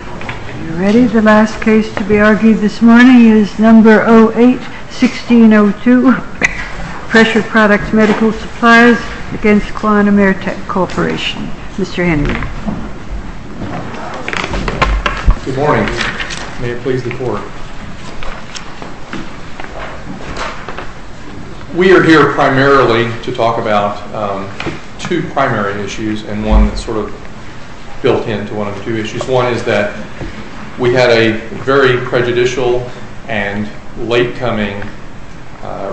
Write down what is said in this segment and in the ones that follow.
Are you ready? The last case to be argued this morning is No. 08-1602, Pressure Products Medical Supplies v. Quan Emerteq Corporation. Mr. Henry. Good morning. May it please the Court. We are here primarily to talk about two primary issues and one that's sort of built into one of the two issues. One is that we had a very prejudicial and late-coming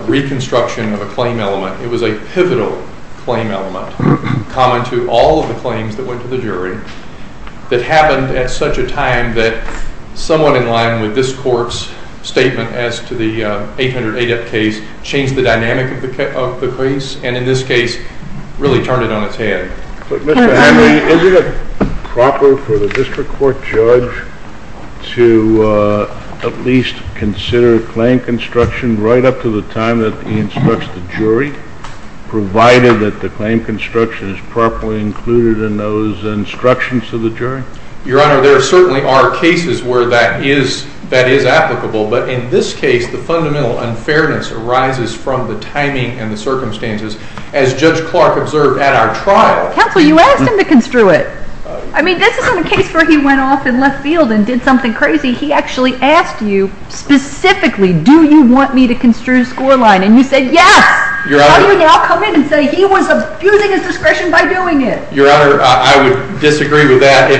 reconstruction of a claim element. It was a pivotal claim element, common to all of the claims that went to the jury, that happened at such a time that someone in line with this Court's statement as to the 800 ADEP case changed the dynamic of the case and in this case really turned it on its head. Mr. Henry, is it proper for the District Court judge to at least consider claim construction right up to the time that he instructs the jury, provided that the claim construction is properly included in those instructions to the jury? Your Honor, there certainly are cases where that is applicable, but in this case the fundamental unfairness arises from the timing and the circumstances. As Judge Clark observed at our trial... Counsel, you asked him to construe it. I mean, this isn't a case where he went off in left field and did something crazy. He actually asked you specifically, do you want me to construe scoreline? And you said yes. How do you now come in and say he was abusing his discretion by doing it? Your Honor, I would disagree with that.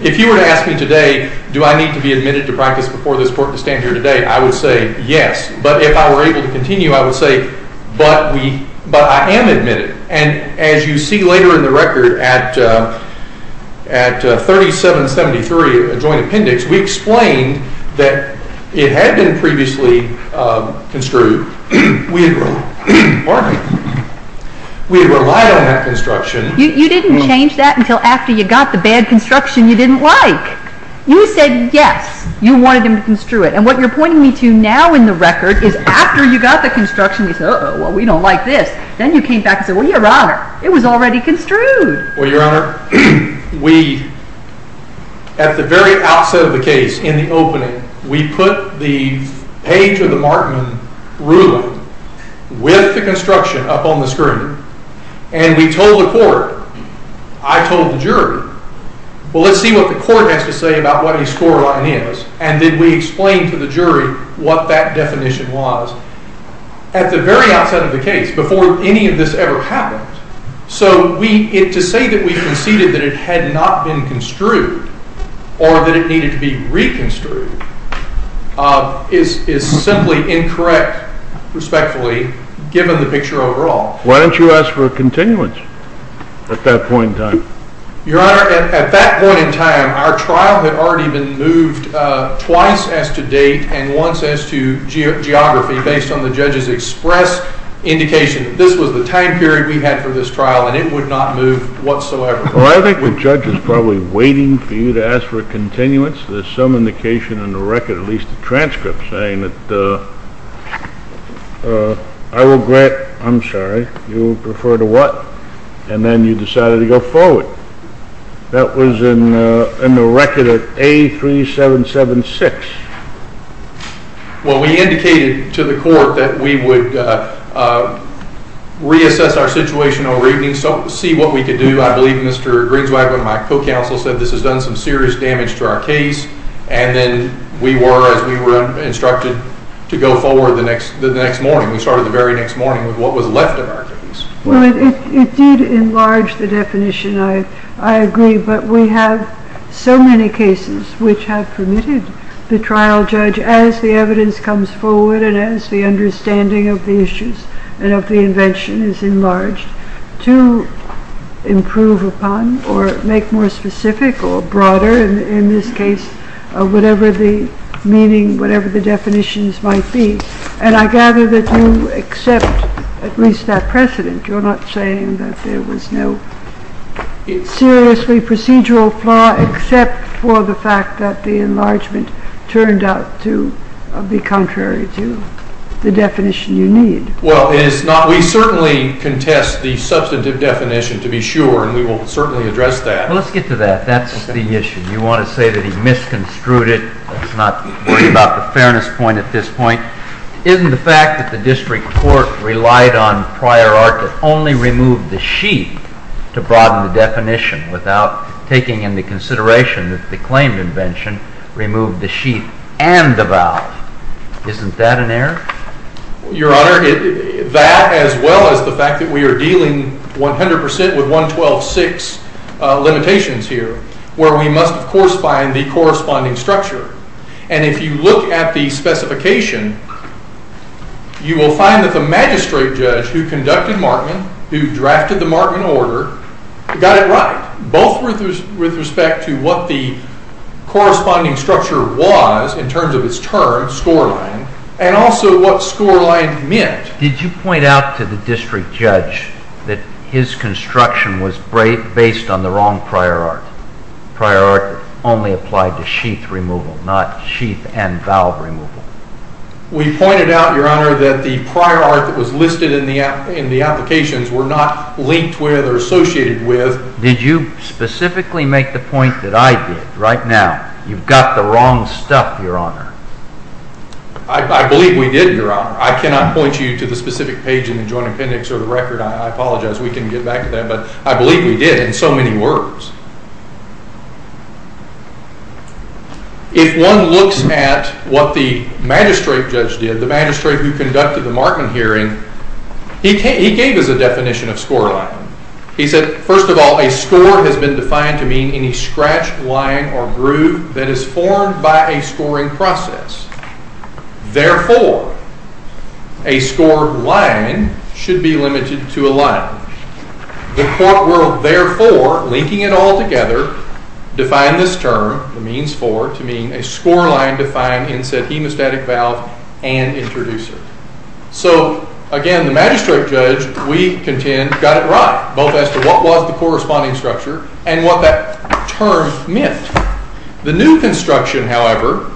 If you were to ask me today, do I need to be admitted to practice before this Court to stand here today, I would say yes. But if I were able to continue, I would say, but I am admitted. And as you see later in the record at 3773, a joint appendix, we explained that it had been previously construed. We had relied on that construction. You didn't change that until after you got the bad construction you didn't like. You said yes, you wanted him to construe it. And what you're pointing me to now in the record is after you got the construction, you said, uh-oh, we don't like this. Then you came back and said, well, Your Honor, it was already construed. Well, Your Honor, we, at the very outset of the case, in the opening, we put the page of the Markman ruling with the construction up on the screen. And we told the Court, I told the jury, well, let's see what the Court has to say about what a scoreline is. And then we explained to the jury what that definition was at the very outset of the case, before any of this ever happened. So to say that we conceded that it had not been construed or that it needed to be reconstrued is simply incorrect, respectfully, given the picture overall. Why didn't you ask for a continuance at that point in time? Your Honor, at that point in time, our trial had already been moved twice as to date and once as to geography, based on the judge's express indication that this was the time period we had for this trial and it would not move whatsoever. Well, I think the judge is probably waiting for you to ask for a continuance. There's some indication in the record, at least the transcript, saying that I regret, I'm sorry, you refer to what? And then you decided to go forward. That was in the record at A3776. Well, we indicated to the Court that we would reassess our situation over evening, see what we could do. I believe Mr. Grinswagon, my co-counsel, said this has done some serious damage to our case. And then we were, as we were instructed, to go forward the next morning. We started the very next morning with what was left of our case. Well, it did enlarge the definition, I agree. But we have so many cases which have permitted the trial judge, as the evidence comes forward and as the understanding of the issues and of the invention is enlarged, to improve upon or make more specific or broader, in this case, whatever the meaning, whatever the definitions might be. And I gather that you accept at least that precedent. You're not saying that there was no seriously procedural flaw except for the fact that the enlargement turned out to be contrary to the definition you need. Well, it is not. We certainly contest the substantive definition, to be sure, and we will certainly address that. Well, let's get to that. That's the issue. You want to say that he misconstrued it. That's not really about the fairness point at this point. Isn't the fact that the district court relied on prior art that only removed the sheet to broaden the definition without taking into consideration that the claimed invention removed the sheet and the valve. Isn't that an error? Your Honor, that as well as the fact that we are dealing 100% with 112.6 limitations here, where we must, of course, find the corresponding structure. And if you look at the specification, you will find that the magistrate judge who conducted Markman, who drafted the Markman order, got it right, both with respect to what the corresponding structure was in terms of its term, scoreline, and also what scoreline meant. Did you point out to the district judge that his construction was based on the wrong prior art? Prior art only applied to sheath removal, not sheath and valve removal. We pointed out, Your Honor, that the prior art that was listed in the applications were not linked with or associated with. Did you specifically make the point that I did right now? You've got the wrong stuff, Your Honor. I believe we did, Your Honor. I cannot point you to the specific page in the Joint Appendix or the record. I apologize. We can get back to that. But I believe we did in so many words. If one looks at what the magistrate judge did, the magistrate who conducted the Markman hearing, he gave us a definition of scoreline. He said, First of all, a score has been defined to mean any scratched line or groove that is formed by a scoring process. Therefore, a scoreline should be limited to a line. The court ruled, Therefore, linking it all together, defined this term, the means for, to mean a scoreline defined in said hemostatic valve and introducer. So, again, the magistrate judge, we contend, got it right, both as to what was the corresponding structure and what that term meant. The new construction, however,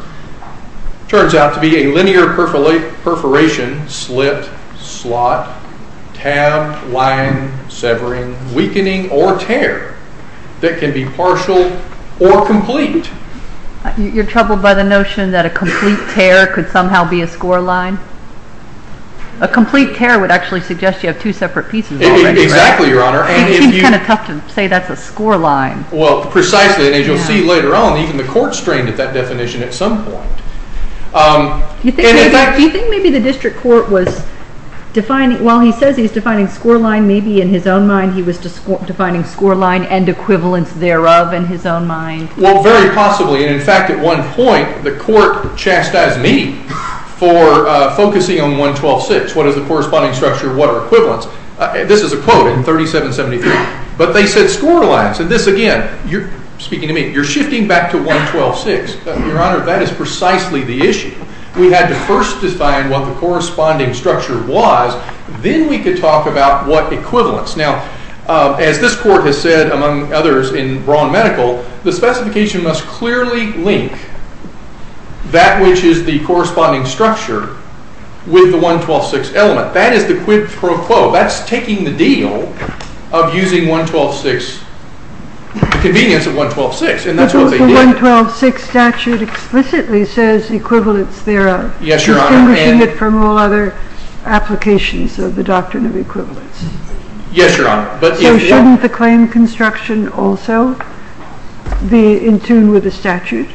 turns out to be a linear perforation, slit, slot, tab, line, severing, weakening, or tear that can be partial or complete. You're troubled by the notion that a complete tear could somehow be a scoreline? A complete tear would actually suggest you have two separate pieces already, right? Exactly, Your Honor. It seems kind of tough to say that's a scoreline. Well, precisely, and as you'll see later on, even the court strained at that definition at some point. Do you think maybe the district court was defining, while he says he's defining scoreline, maybe in his own mind he was defining scoreline and equivalence thereof in his own mind? Well, very possibly. And, in fact, at one point the court chastised me for focusing on 112.6, what is the corresponding structure, what are equivalence. This is a quote in 3773. But they said scorelines. And this, again, you're speaking to me. You're shifting back to 112.6. Your Honor, that is precisely the issue. We had to first define what the corresponding structure was. Then we could talk about what equivalence. Now, as this court has said, among others, in Braun Medical, the specification must clearly link that which is the corresponding structure with the 112.6 element. That is the quid pro quo. That's taking the deal of using 112.6, the convenience of 112.6. And that's what they did. But the 112.6 statute explicitly says equivalence thereof. Yes, Your Honor. Distinguishing it from all other applications of the doctrine of equivalence. Yes, Your Honor. So shouldn't the claim construction also be in tune with the statute?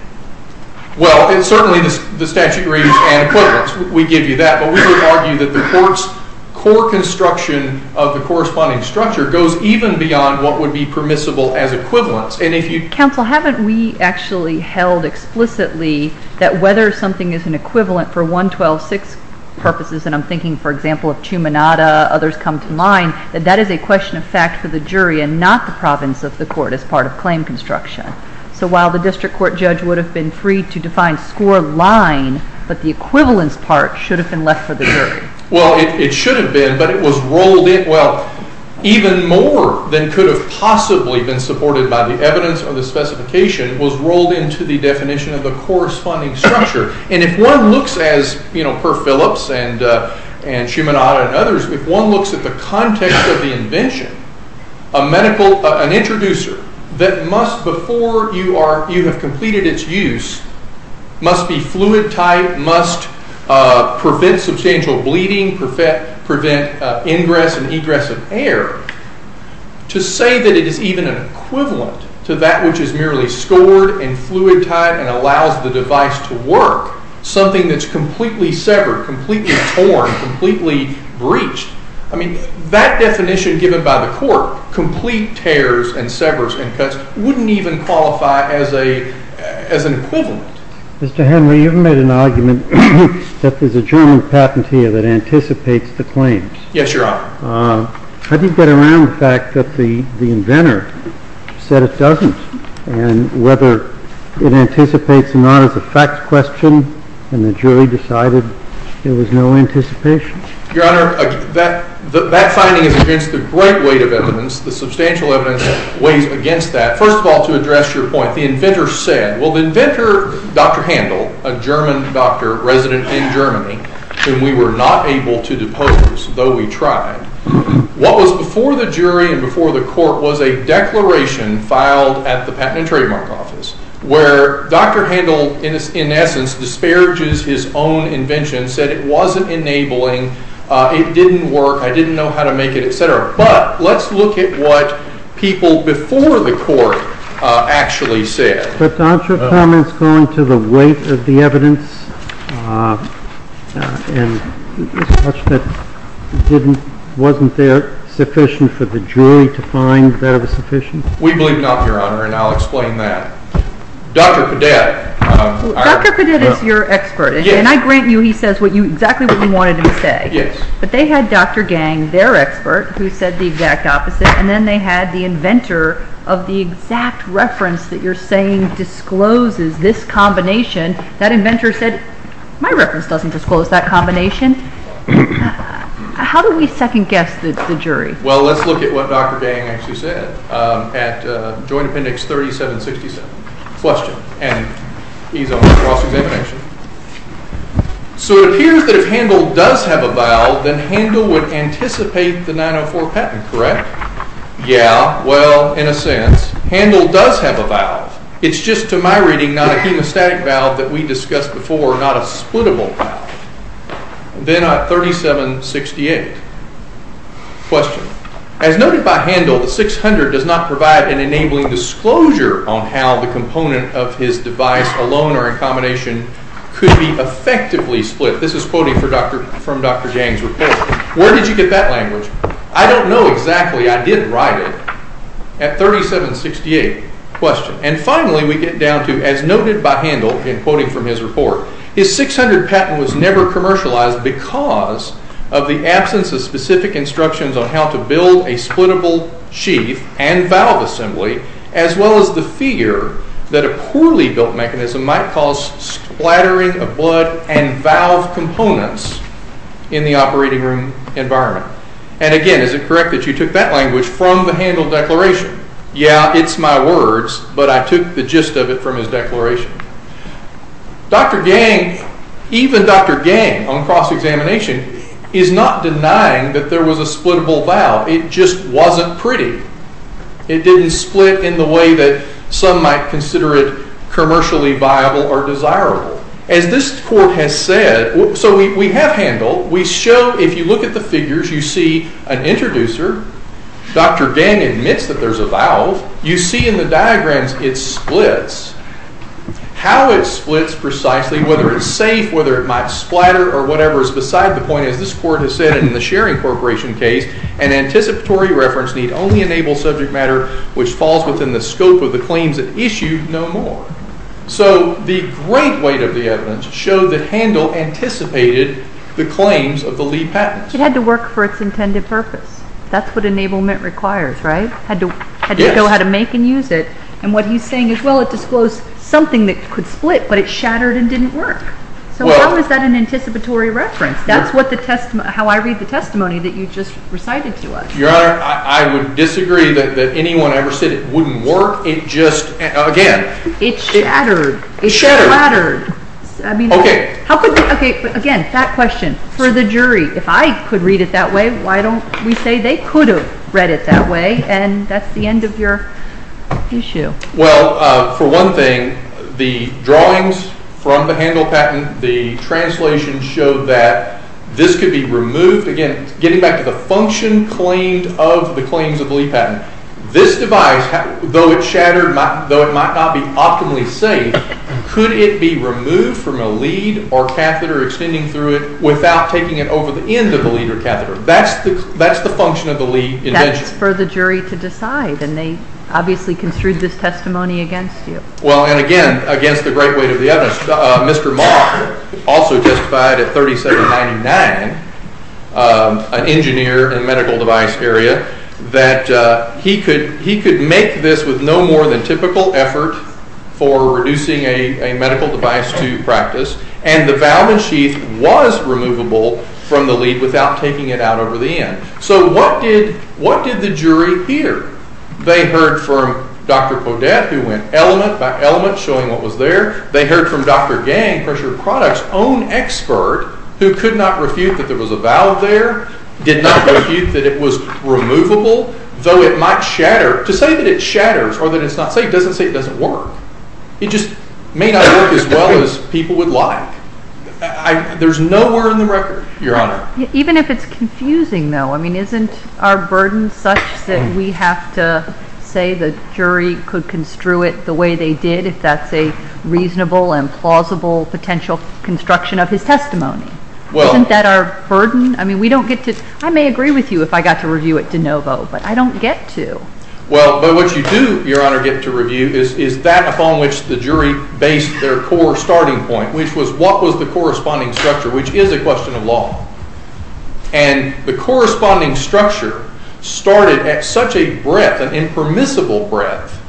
Well, certainly the statute agrees and equivalence. We give you that. But we would argue that the court's core construction of the corresponding structure goes even beyond what would be permissible as equivalence. And if you- Counsel, haven't we actually held explicitly that whether something is an equivalent for 112.6 purposes, and I'm thinking, for example, of Chuminada, others come to mind, that that is a question of fact for the jury and not the province of the court as part of claim construction. So while the district court judge would have been free to define scoreline, but the equivalence part should have been left for the jury. Well, it should have been, but it was rolled in. Well, even more than could have possibly been supported by the evidence or the specification was rolled into the definition of the corresponding structure. And if one looks as, you know, per Phillips and Chuminada and others, if one looks at the context of the invention, an introducer that must, before you have completed its use, must be fluid-type, must prevent substantial bleeding, prevent ingress and egress of air, to say that it is even an equivalent to that which is merely scored and fluid-type and allows the device to work, something that's completely severed, completely torn, completely breached, I mean, that definition given by the court, complete tears and severs and cuts, it wouldn't even qualify as an equivalent. Mr. Henry, you've made an argument that there's a German patentee that anticipates the claims. Yes, Your Honor. How do you get around the fact that the inventor said it doesn't and whether it anticipates or not is a fact question and the jury decided there was no anticipation? Your Honor, that finding is against the great weight of evidence. The substantial evidence weighs against that. First of all, to address your point, the inventor said, well, the inventor, Dr. Handel, a German doctor resident in Germany, whom we were not able to depose, though we tried, what was before the jury and before the court was a declaration filed at the Patent and Trademark Office where Dr. Handel, in essence, disparages his own invention, said it wasn't enabling, it didn't work, I didn't know how to make it, etc. But let's look at what people before the court actually said. But Dr. Cameron's going to the weight of the evidence and such that wasn't there sufficient for the jury to find that it was sufficient? We believe not, Your Honor, and I'll explain that. Dr. Podetta. Dr. Podetta is your expert, and I grant you he says exactly what we wanted him to say. But they had Dr. Gang, their expert, who said the exact opposite, and then they had the inventor of the exact reference that you're saying discloses this combination. That inventor said, my reference doesn't disclose that combination. How do we second-guess the jury? Well, let's look at what Dr. Gang actually said at Joint Appendix 3767. Question, and he's on the cross-examination. So it appears that if Handel does have a valve, then Handel would anticipate the 904 patent, correct? Yeah, well, in a sense. Handel does have a valve. It's just, to my reading, not a hemostatic valve that we discussed before, not a splittable valve. Then at 3768. Question, as noted by Handel, the 600 does not provide an enabling disclosure on how the component of his device alone or in combination could be effectively split. This is quoting from Dr. Gang's report. Where did you get that language? I don't know exactly. I did write it. At 3768. Question, and finally we get down to, as noted by Handel in quoting from his report, his 600 patent was never commercialized because of the absence of specific instructions on how to build a splittable sheath and valve assembly, as well as the fear that a poorly built mechanism might cause splattering of blood and valve components in the operating room environment. And again, is it correct that you took that language from the Handel declaration? Yeah, it's my words, but I took the gist of it from his declaration. Dr. Gang, even Dr. Gang on cross-examination, is not denying that there was a splittable valve. It just wasn't pretty. It didn't split in the way that some might consider it reliable or desirable. As this court has said, so we have Handel. We show, if you look at the figures, you see an introducer. Dr. Gang admits that there's a valve. You see in the diagrams it splits. How it splits precisely, whether it's safe, whether it might splatter or whatever is beside the point, as this court has said in the Sharing Corporation case, an anticipatory reference need only enable subject matter which falls within the scope of the claims it issued no more. So the great weight of the evidence showed that Handel anticipated the claims of the Lee patents. It had to work for its intended purpose. That's what enablement requires, right? Had to know how to make and use it. And what he's saying is, well, it disclosed something that could split, but it shattered and didn't work. So how is that an anticipatory reference? That's how I read the testimony that you just recited to us. Your Honor, I would disagree that anyone ever said it wouldn't work. It just, again. It shattered. It shattered. It splattered. Okay. Again, that question. For the jury, if I could read it that way, why don't we say they could have read it that way? And that's the end of your issue. Well, for one thing, the drawings from the Handel patent, the translation showed that this could be removed. Again, getting back to the function claimed of the claims of the Lee patent, this device, though it shattered, though it might not be optimally safe, could it be removed from a lead or catheter extending through it without taking it over the end of the lead or catheter? That's the function of the Lee invention. That's for the jury to decide, and they obviously construed this testimony against you. Well, and again, against the great weight of the evidence. Mr. Mock also testified at 3799, an engineer in the medical device area, that he could make this with no more than typical effort for reducing a medical device to practice, and the valve and sheath was removable from the lead without taking it out over the end. So what did the jury hear? They heard from Dr. Podette, who went element by element showing what was there. They heard from Dr. Gang, Pressured Products' own expert, who could not refute that there was a valve there, did not refute that it was removable, though it might shatter. To say that it shatters or that it's not safe doesn't say it doesn't work. It just may not work as well as people would like. There's nowhere in the record, Your Honor. Even if it's confusing, though, I mean, isn't our burden such that we have to say the jury could construe it the way they did if that's a reasonable and plausible potential construction of his testimony? Isn't that our burden? I mean, we don't get to, I may agree with you if I got to review it de novo, but I don't get to. Well, but what you do, Your Honor, get to review is that upon which the jury based their core starting point, which was what was the corresponding structure, which is a question of law. And the corresponding structure started at such a breadth, an impermissible breadth,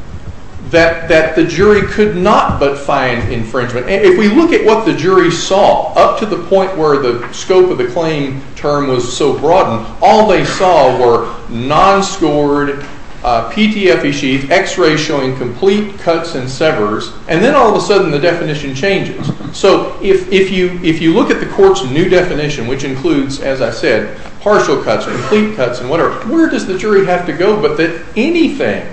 that the jury could not but find infringement. And if we look at what the jury saw, up to the point where the scope of the claim term was so broadened, all they saw were non-scored PTFE sheets, x-rays showing complete cuts and severs, and then all of a sudden the definition changes. So if you look at the court's new definition, which includes, as I said, partial cuts, complete cuts, and whatever, where does the jury have to go but that anything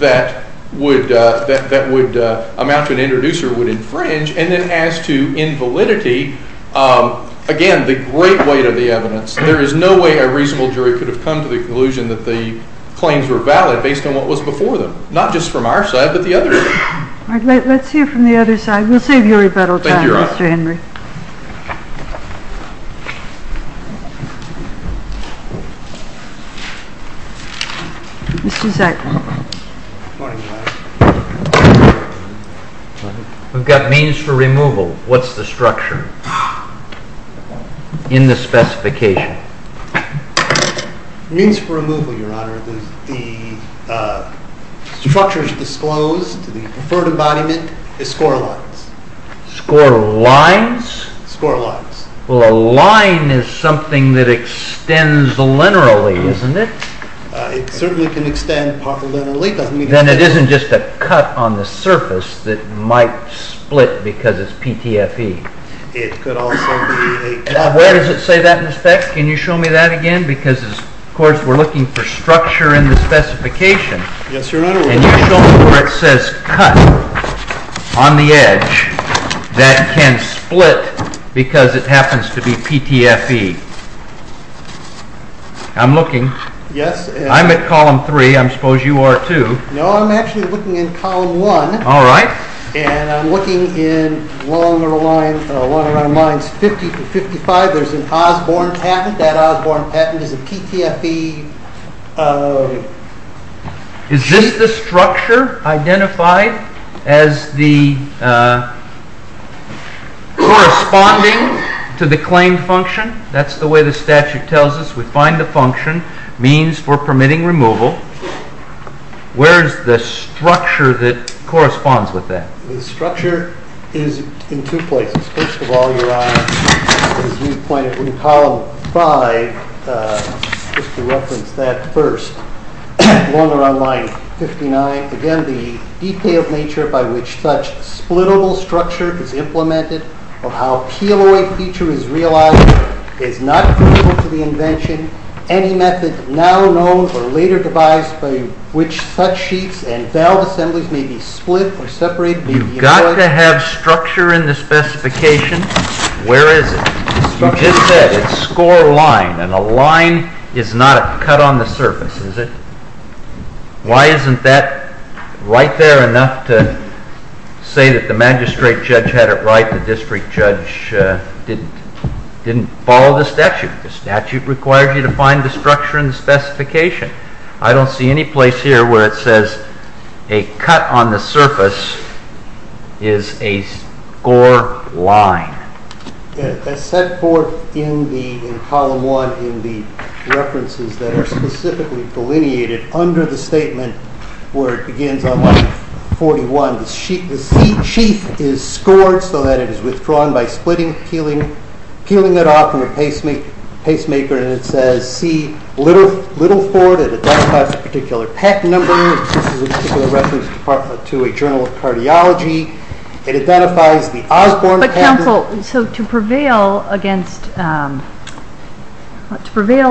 that would amount to an introducer would infringe, and then as to invalidity, again, the great weight of the evidence. There is no way a reasonable jury could have come to the conclusion that the claims were valid based on what was before them, not just from our side but the other side. All right, let's hear from the other side. We'll save you rebuttal time, Mr. Henry. Thank you, Your Honor. Mr. Zeigler. Good morning, Your Honor. We've got means for removal. What's the structure in the specification? Means for removal, Your Honor, the structure is disclosed. The preferred embodiment is score lines. Score lines? Score lines. Well, a line is something that extends linearly, isn't it? It certainly can extend partially linearly. Then it isn't just a cut on the surface that might split because it's PTFE. It could also be a cut. Where does it say that in effect? Can you show me that again? Because, of course, we're looking for structure in the specification. Yes, Your Honor. Can you show me where it says cut on the edge that can split because it happens to be PTFE? I'm looking. Yes. I'm at Column 3. I suppose you are, too. No, I'm actually looking in Column 1. All right. I'm looking in one of our lines, 50 to 55. There's an Osborne patent. That Osborne patent is a PTFE. Is this the structure identified as the corresponding to the claimed function? That's the way the statute tells us. We find the function, means for permitting removal. Where is the structure that corresponds with that? The structure is in two places. First of all, Your Honor, as you pointed, in Column 5, just to reference that first, along around line 59, again, the detailed nature by which such split-able structure is implemented or how peel-away feature is realized is not critical to the invention. Any method now known or later devised by which such sheets and valve assemblies may be split or separated. You've got to have structure in the specification. Where is it? You just said it's score line, and a line is not a cut on the surface, is it? Why isn't that right there enough to say that the magistrate judge had it right, the district judge didn't follow the statute? The statute required you to find the structure in the specification. I don't see any place here where it says a cut on the surface is a score line. As set forth in Column 1 in the references that are specifically delineated under the statement, where it begins on line 41, the sheath is scored so that it is withdrawn by splitting, peeling it off with a pacemaker, and it says C. Littleford. It identifies a particular patent number. This is a particular reference to a journal of cardiology. It identifies the Osborne patent. Counsel, to prevail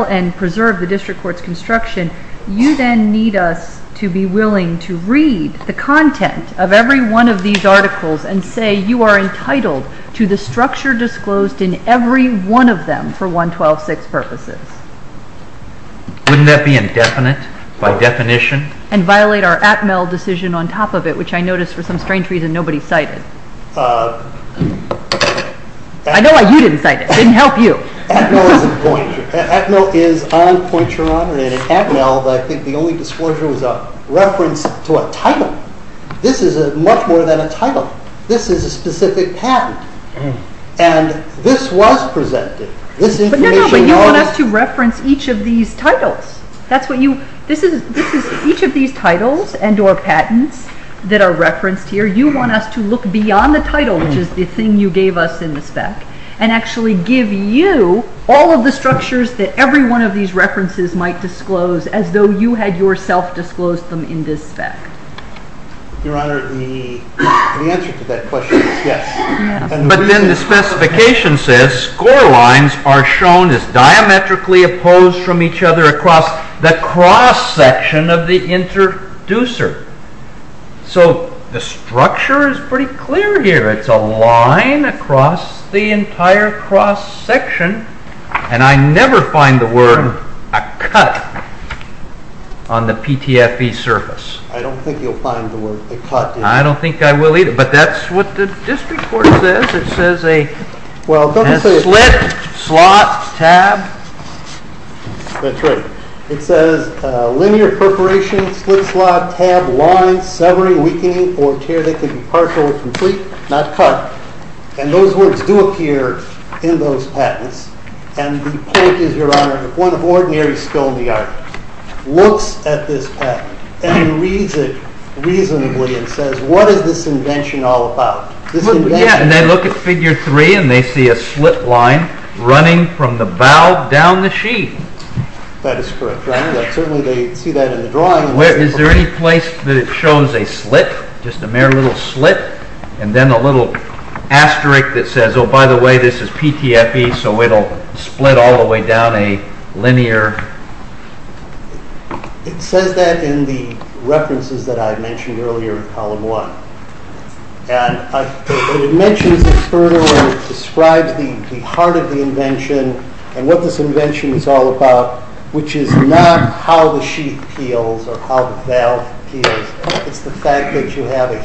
and preserve the district court's construction, you then need us to be willing to read the content of every one of these articles and say you are entitled to the structure disclosed in every one of them for 112.6 purposes. Wouldn't that be indefinite by definition? And violate our Atmel decision on top of it, which I noticed for some strange reason nobody cited. I know why you didn't cite it. It didn't help you. Atmel is on Pointeron, and in Atmel, I think the only disclosure was a reference to a title. This is much more than a title. This is a specific patent, and this was presented. No, no, but you want us to reference each of these titles. Each of these titles and or patents that are referenced here, you want us to look beyond the title, which is the thing you gave us in the spec, and actually give you all of the structures that every one of these references might disclose as though you had yourself disclosed them in this spec. Your Honor, the answer to that question is yes. But then the specification says score lines are shown as diametrically opposed from each other across the cross section of the introducer. So the structure is pretty clear here. It's a line across the entire cross section, and I never find the word a cut on the PTFE surface. I don't think you'll find the word a cut. I don't think I will either, but that's what the district court says. It says a slit, slot, tab. That's right. It says linear perforation, slit, slot, tab, line, severing, weakening, or tear that can be partial or complete, not cut. And those words do appear in those patents, and the point is, Your Honor, the point of ordinary skill in the art looks at this patent and reads it reasonably and says, what is this invention all about? They look at Figure 3 and they see a slit line running from the valve down the sheet. That is correct, Your Honor. Certainly they see that in the drawing. Is there any place that it shows a slit, just a mere little slit, and then a little asterisk that says, oh, by the way, this is PTFE, so it will split all the way down a linear… It says that in the references that I mentioned earlier in Column 1. And it mentions this further and it describes the heart of the invention and what this invention is all about, which is not how the sheet peels or how the valve peels. It's the fact that you have a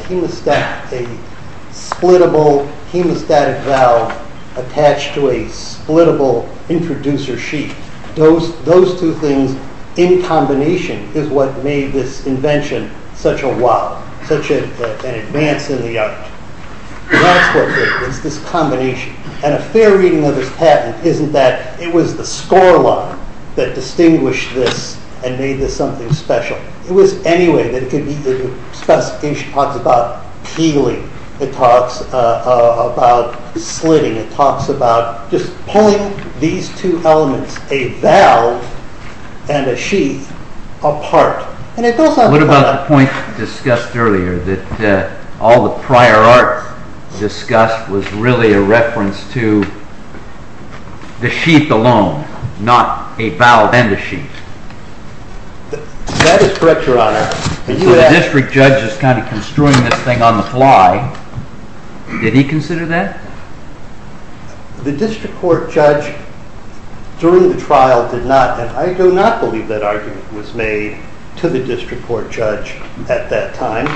splitable hemostatic valve attached to a splitable introducer sheet. Those two things in combination is what made this invention such a wow, such an advance in the art. That's what it is, this combination. And a fair reading of this patent isn't that it was the score line that distinguished this and made this something special. It was any way that it could be. The specification talks about peeling. It talks about slitting. It talks about just pulling these two elements, a valve and a sheet, apart. What about the point discussed earlier, that all the prior art discussed was really a reference to the sheet alone, not a valve and a sheet? That is correct, Your Honor. The district judge is kind of construing this thing on the fly. Did he consider that? The district court judge during the trial did not, and I do not believe that argument was made to the district court judge at that time.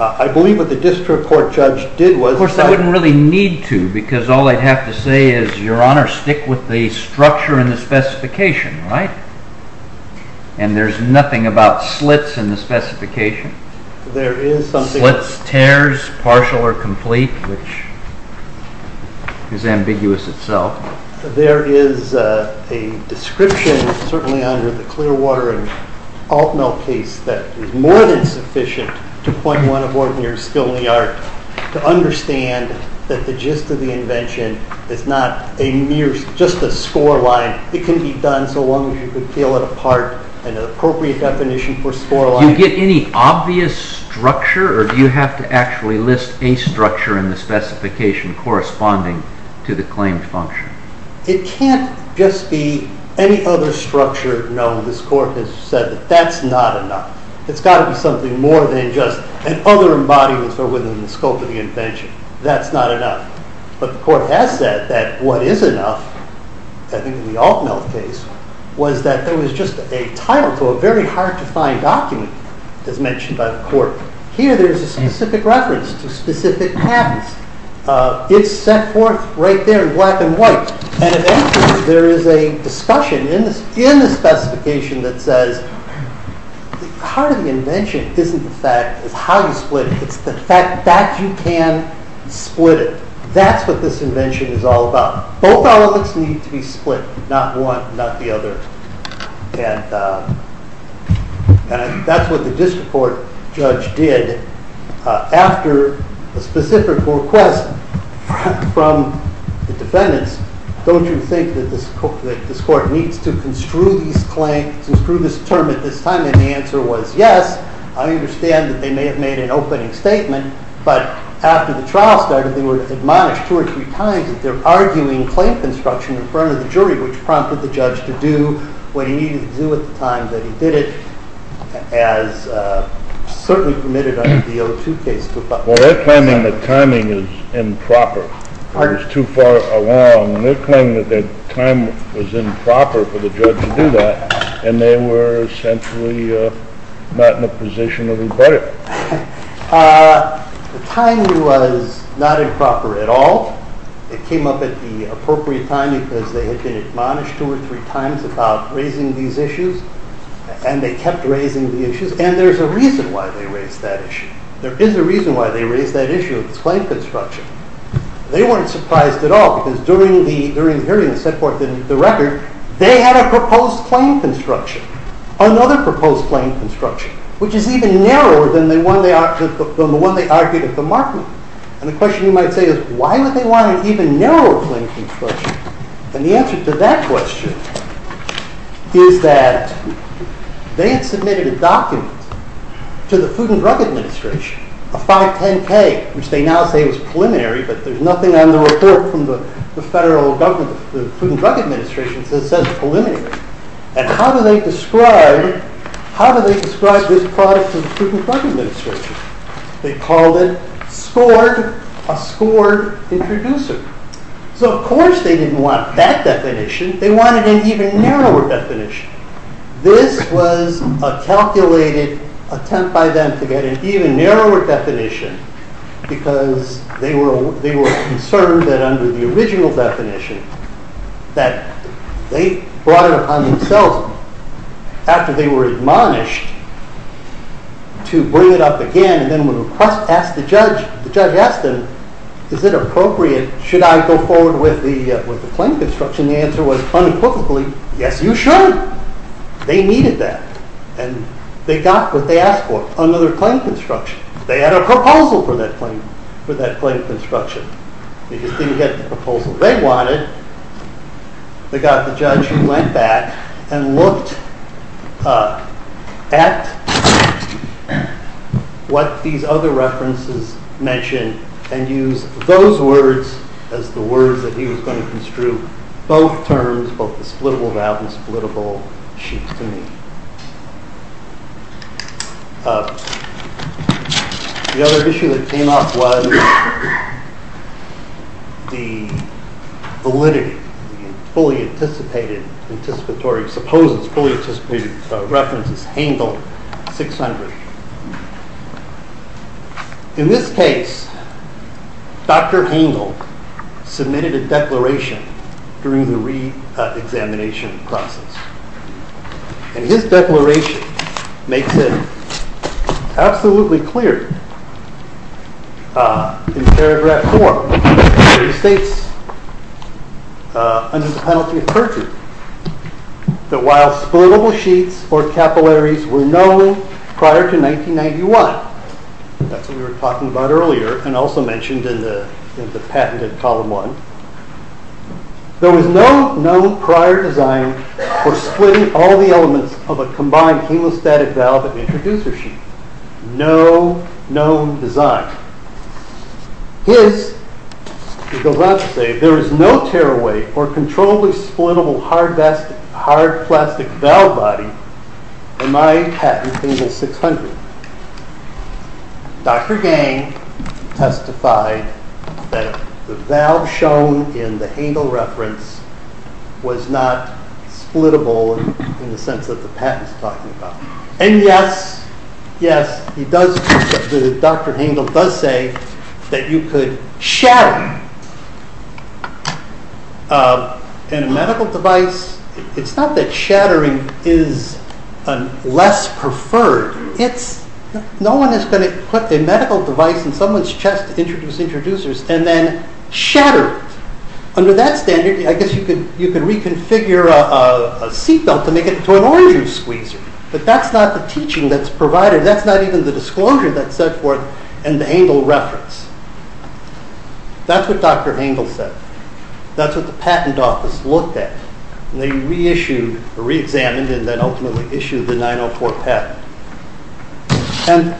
I believe what the district court judge did was... Of course, I wouldn't really need to, because all I'd have to say is, Your Honor, stick with the structure and the specification, right? And there's nothing about slits in the specification. There is something... Slits, tears, partial or complete, which is ambiguous itself. There is a description, certainly under the Clearwater and Altmel case, that is more than sufficient to point one aboard near Skilney Art to understand that the gist of the invention is not just a score line. It can be done so long as you can peel it apart in an appropriate definition for score line. Do you get any obvious structure, or do you have to actually list a structure in the specification corresponding to the claimed function? It can't just be any other structure. No, this court has said that that's not enough. It's got to be something more than just an other embodiment within the scope of the invention. That's not enough. But the court has said that what is enough, I think in the Altmel case, was that there was just a title to a very hard-to-find document as mentioned by the court. Here there is a specific reference to specific paths. It's set forth right there in black and white. And if anything, there is a discussion in the specification that says part of the invention isn't the fact of how you split it, it's the fact that you can split it. That's what this invention is all about. Both elements need to be split, not one, not the other. And that's what the district court judge did. After a specific request from the defendants, don't you think that this court needs to construe these claims, construe this term at this time? And the answer was yes. I understand that they may have made an opening statement, but after the trial started, they were admonished two or three times that they're arguing claim construction in front of the jury, which prompted the judge to do what he needed to do at the time that he did it, as certainly permitted under the O2 case. Well, they're claiming the timing is improper. It was too far along. They're claiming that the time was improper for the judge to do that, and they were essentially not in a position to rebut it. The timing was not improper at all. It came up at the appropriate time because they had been admonished two or three times about raising these issues, and they kept raising the issues, and there's a reason why they raised that issue. There is a reason why they raised that issue of this claim construction. They weren't surprised at all, because during the hearing the district court did the record, they had a proposed claim construction, another proposed claim construction, which is even narrower than the one they argued at the markment. And the question you might say is, why would they want an even narrower claim construction? And the answer to that question is that they had submitted a document to the Food and Drug Administration, a 510K, which they now say was preliminary, but there's nothing on the report from the federal government. The Food and Drug Administration says it's preliminary. And how do they describe this product to the Food and Drug Administration? They called it scored, a scored introducer. So of course they didn't want that definition. They wanted an even narrower definition. This was a calculated attempt by them to get an even narrower definition because they were concerned that under the original definition that they brought it upon themselves after they were admonished to bring it up again. And then when the judge asked them, is it appropriate, should I go forward with the claim construction, the answer was unequivocally, yes, you should. They needed that. And they got what they asked for, another claim construction. They had a proposal for that claim construction. They just didn't get the proposal they wanted. They got the judge who went back and looked at what these other references mentioned and used those words as the words that he was going to construe, both terms, both the splittable valve and splittable sheet to me. The other issue that came up was the validity, the fully anticipated anticipatory, supposed fully anticipated references, Hengel 600. In this case, Dr. Hengel submitted a declaration during the reexamination process. And his declaration makes it absolutely clear in paragraph four. It states under the penalty of perjury that while splittable sheets or capillaries were known prior to 1991, that's what we were talking about earlier and also mentioned in the patent in column one, there was no known prior design for splitting all the elements of a combined hemostatic valve and introducer sheet. No known design. His, he goes on to say, there is no tearaway or controllably splittable hard plastic valve body in my patent Hengel 600. Dr. Gang testified that the valve shown in the Hengel reference was not splittable in the sense that the patent is talking about. And yes, yes, he does, Dr. Hengel does say that you could shatter. In a medical device, it's not that shattering is less preferred. No one is going to equip a medical device in someone's chest to introduce introducers and then shatter it. Under that standard, I guess you could reconfigure a seatbelt to make it into an orange juice squeezer. But that's not the teaching that's provided. That's not even the disclosure that's set forth in the Hengel reference. That's what Dr. Hengel said. That's what the patent office looked at. And they reissued, reexamined, and then ultimately issued the 904 patent. And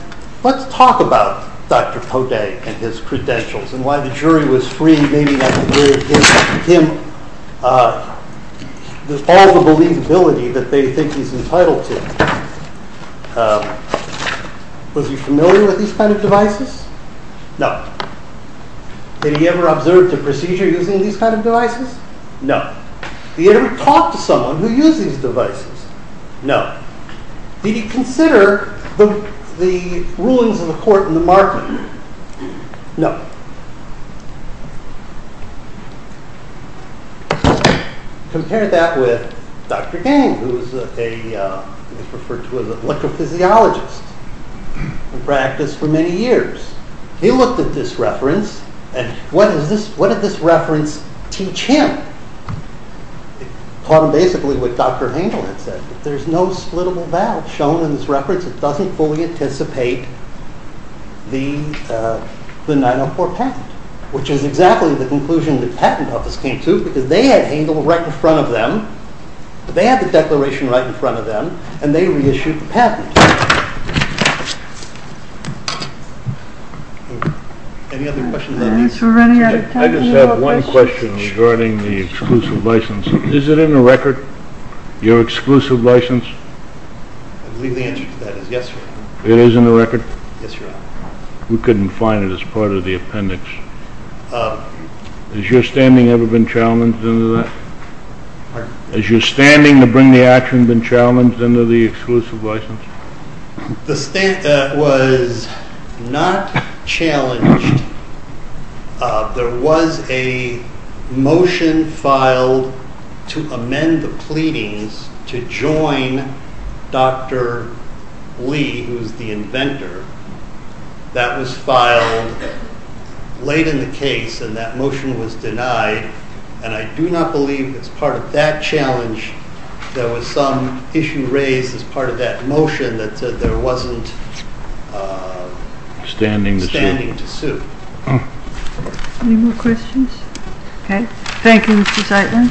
let's talk about Dr. Kote and his credentials and why the jury was free, maybe not to give him all the believability that they think he's entitled to. Was he familiar with these kind of devices? No. Had he ever observed a procedure using these kind of devices? No. Did he ever talk to someone who used these devices? No. Did he consider the rulings of the court in the market? No. Compare that with Dr. Gane, who is referred to as an electrophysiologist who practiced for many years. He looked at this reference, and what did this reference teach him? It taught him basically what Dr. Hengel had said. There's no splittable valve shown in this reference. It doesn't fully anticipate the 904 patent, which is exactly the conclusion the patent office came to because they had Hengel right in front of them. They had the declaration right in front of them, Any other questions on these? I just have one question regarding the exclusive license. Is it in the record, your exclusive license? I believe the answer to that is yes, Your Honor. It is in the record? Yes, Your Honor. We couldn't find it as part of the appendix. Has your standing ever been challenged under that? Pardon? Has your standing to bring the action been challenged under the exclusive license? It was not challenged. There was a motion filed to amend the pleadings to join Dr. Lee, who is the inventor. That was filed late in the case, and that motion was denied. I do not believe as part of that challenge there was some issue raised as part of that motion that there wasn't standing to sue. Any more questions? Okay. Thank you, Mr. Zeitlin.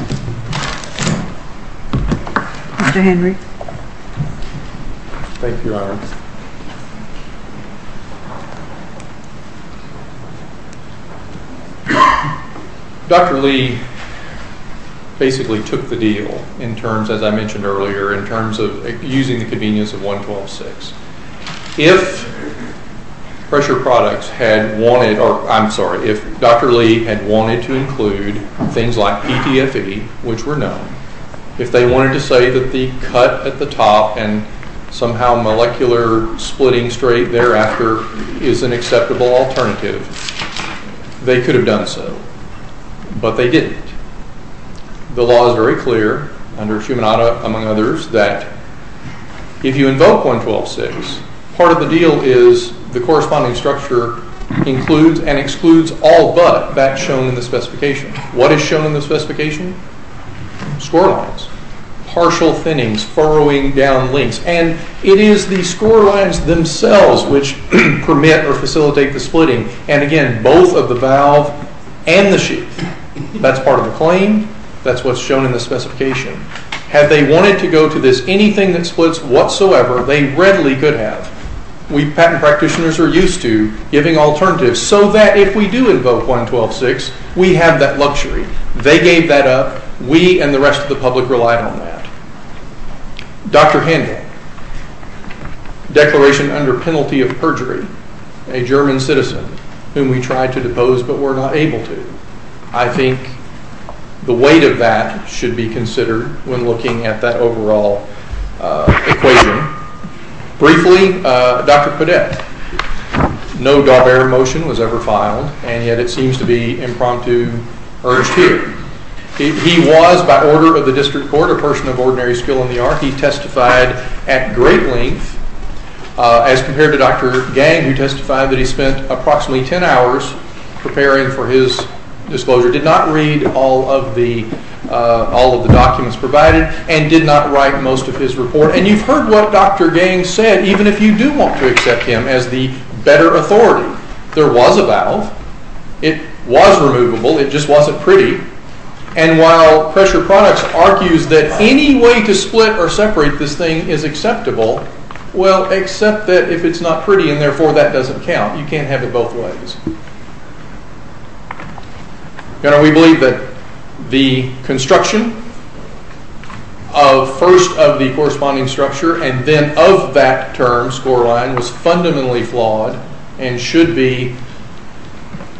Thank you, Your Honor. Dr. Lee basically took the deal in terms, as I mentioned earlier, in terms of using the convenience of 112.6. If pressure products had wanted, or I'm sorry, if Dr. Lee had wanted to include things like PTFE, which were known, if they wanted to say that the cut at the top and somehow molecular splitting straight thereafter is an acceptable alternative, they could have done so, but they didn't. The law is very clear under Shumanada, among others, that if you invoke 112.6, part of the deal is the corresponding structure includes and excludes all but that shown in the specification. What is shown in the specification? Score lines, partial thinnings, furrowing down links, and it is the score lines themselves which permit or facilitate the splitting, and again, both of the valve and the sheath. That's part of the claim. That's what's shown in the specification. Had they wanted to go to this, anything that splits whatsoever, they readily could have. We patent practitioners are used to giving alternatives so that if we do invoke 112.6, we have that luxury. They gave that up. We and the rest of the public relied on that. Dr. Handel, declaration under penalty of perjury, a German citizen whom we tried to depose but were not able to. I think the weight of that should be considered when looking at that overall equation. Briefly, Dr. Podette, no Daubert motion was ever filed, and yet it seems to be impromptu urged here. He was, by order of the district court, a person of ordinary skill in the art. He testified at great length as compared to Dr. Gang who testified that he spent approximately 10 hours preparing for his disclosure, did not read all of the documents provided, and did not write most of his report. And you've heard what Dr. Gang said, even if you do want to accept him as the better authority. There was a valve. It was removable. It just wasn't pretty. And while pressure products argues that any way to split or separate this thing is acceptable, well, except that if it's not pretty and therefore that doesn't count. You can't have it both ways. We believe that the construction of first of the corresponding structure and then of that term scoreline was fundamentally flawed and should be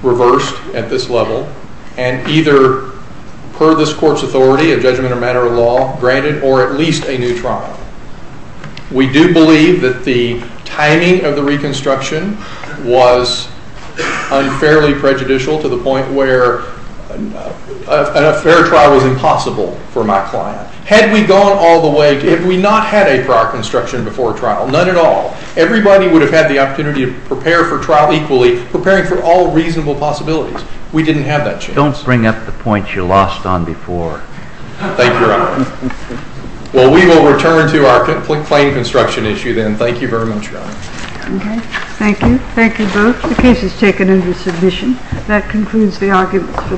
reversed at this level and either per this court's authority of judgment or matter of law granted or at least a new trial. We do believe that the timing of the reconstruction was unfairly prejudicial to the point where a fair trial was impossible for my client. Had we gone all the way, had we not had a prior construction before trial, none at all, everybody would have had the opportunity to prepare for trial equally, preparing for all reasonable possibilities. We didn't have that chance. Don't bring up the points you lost on before. Thank you, Your Honor. Well, we will return to our plain construction issue then. Thank you very much, Your Honor. Okay. Thank you. Thank you both. The case is taken into submission. That concludes the arguments for this morning. All rise.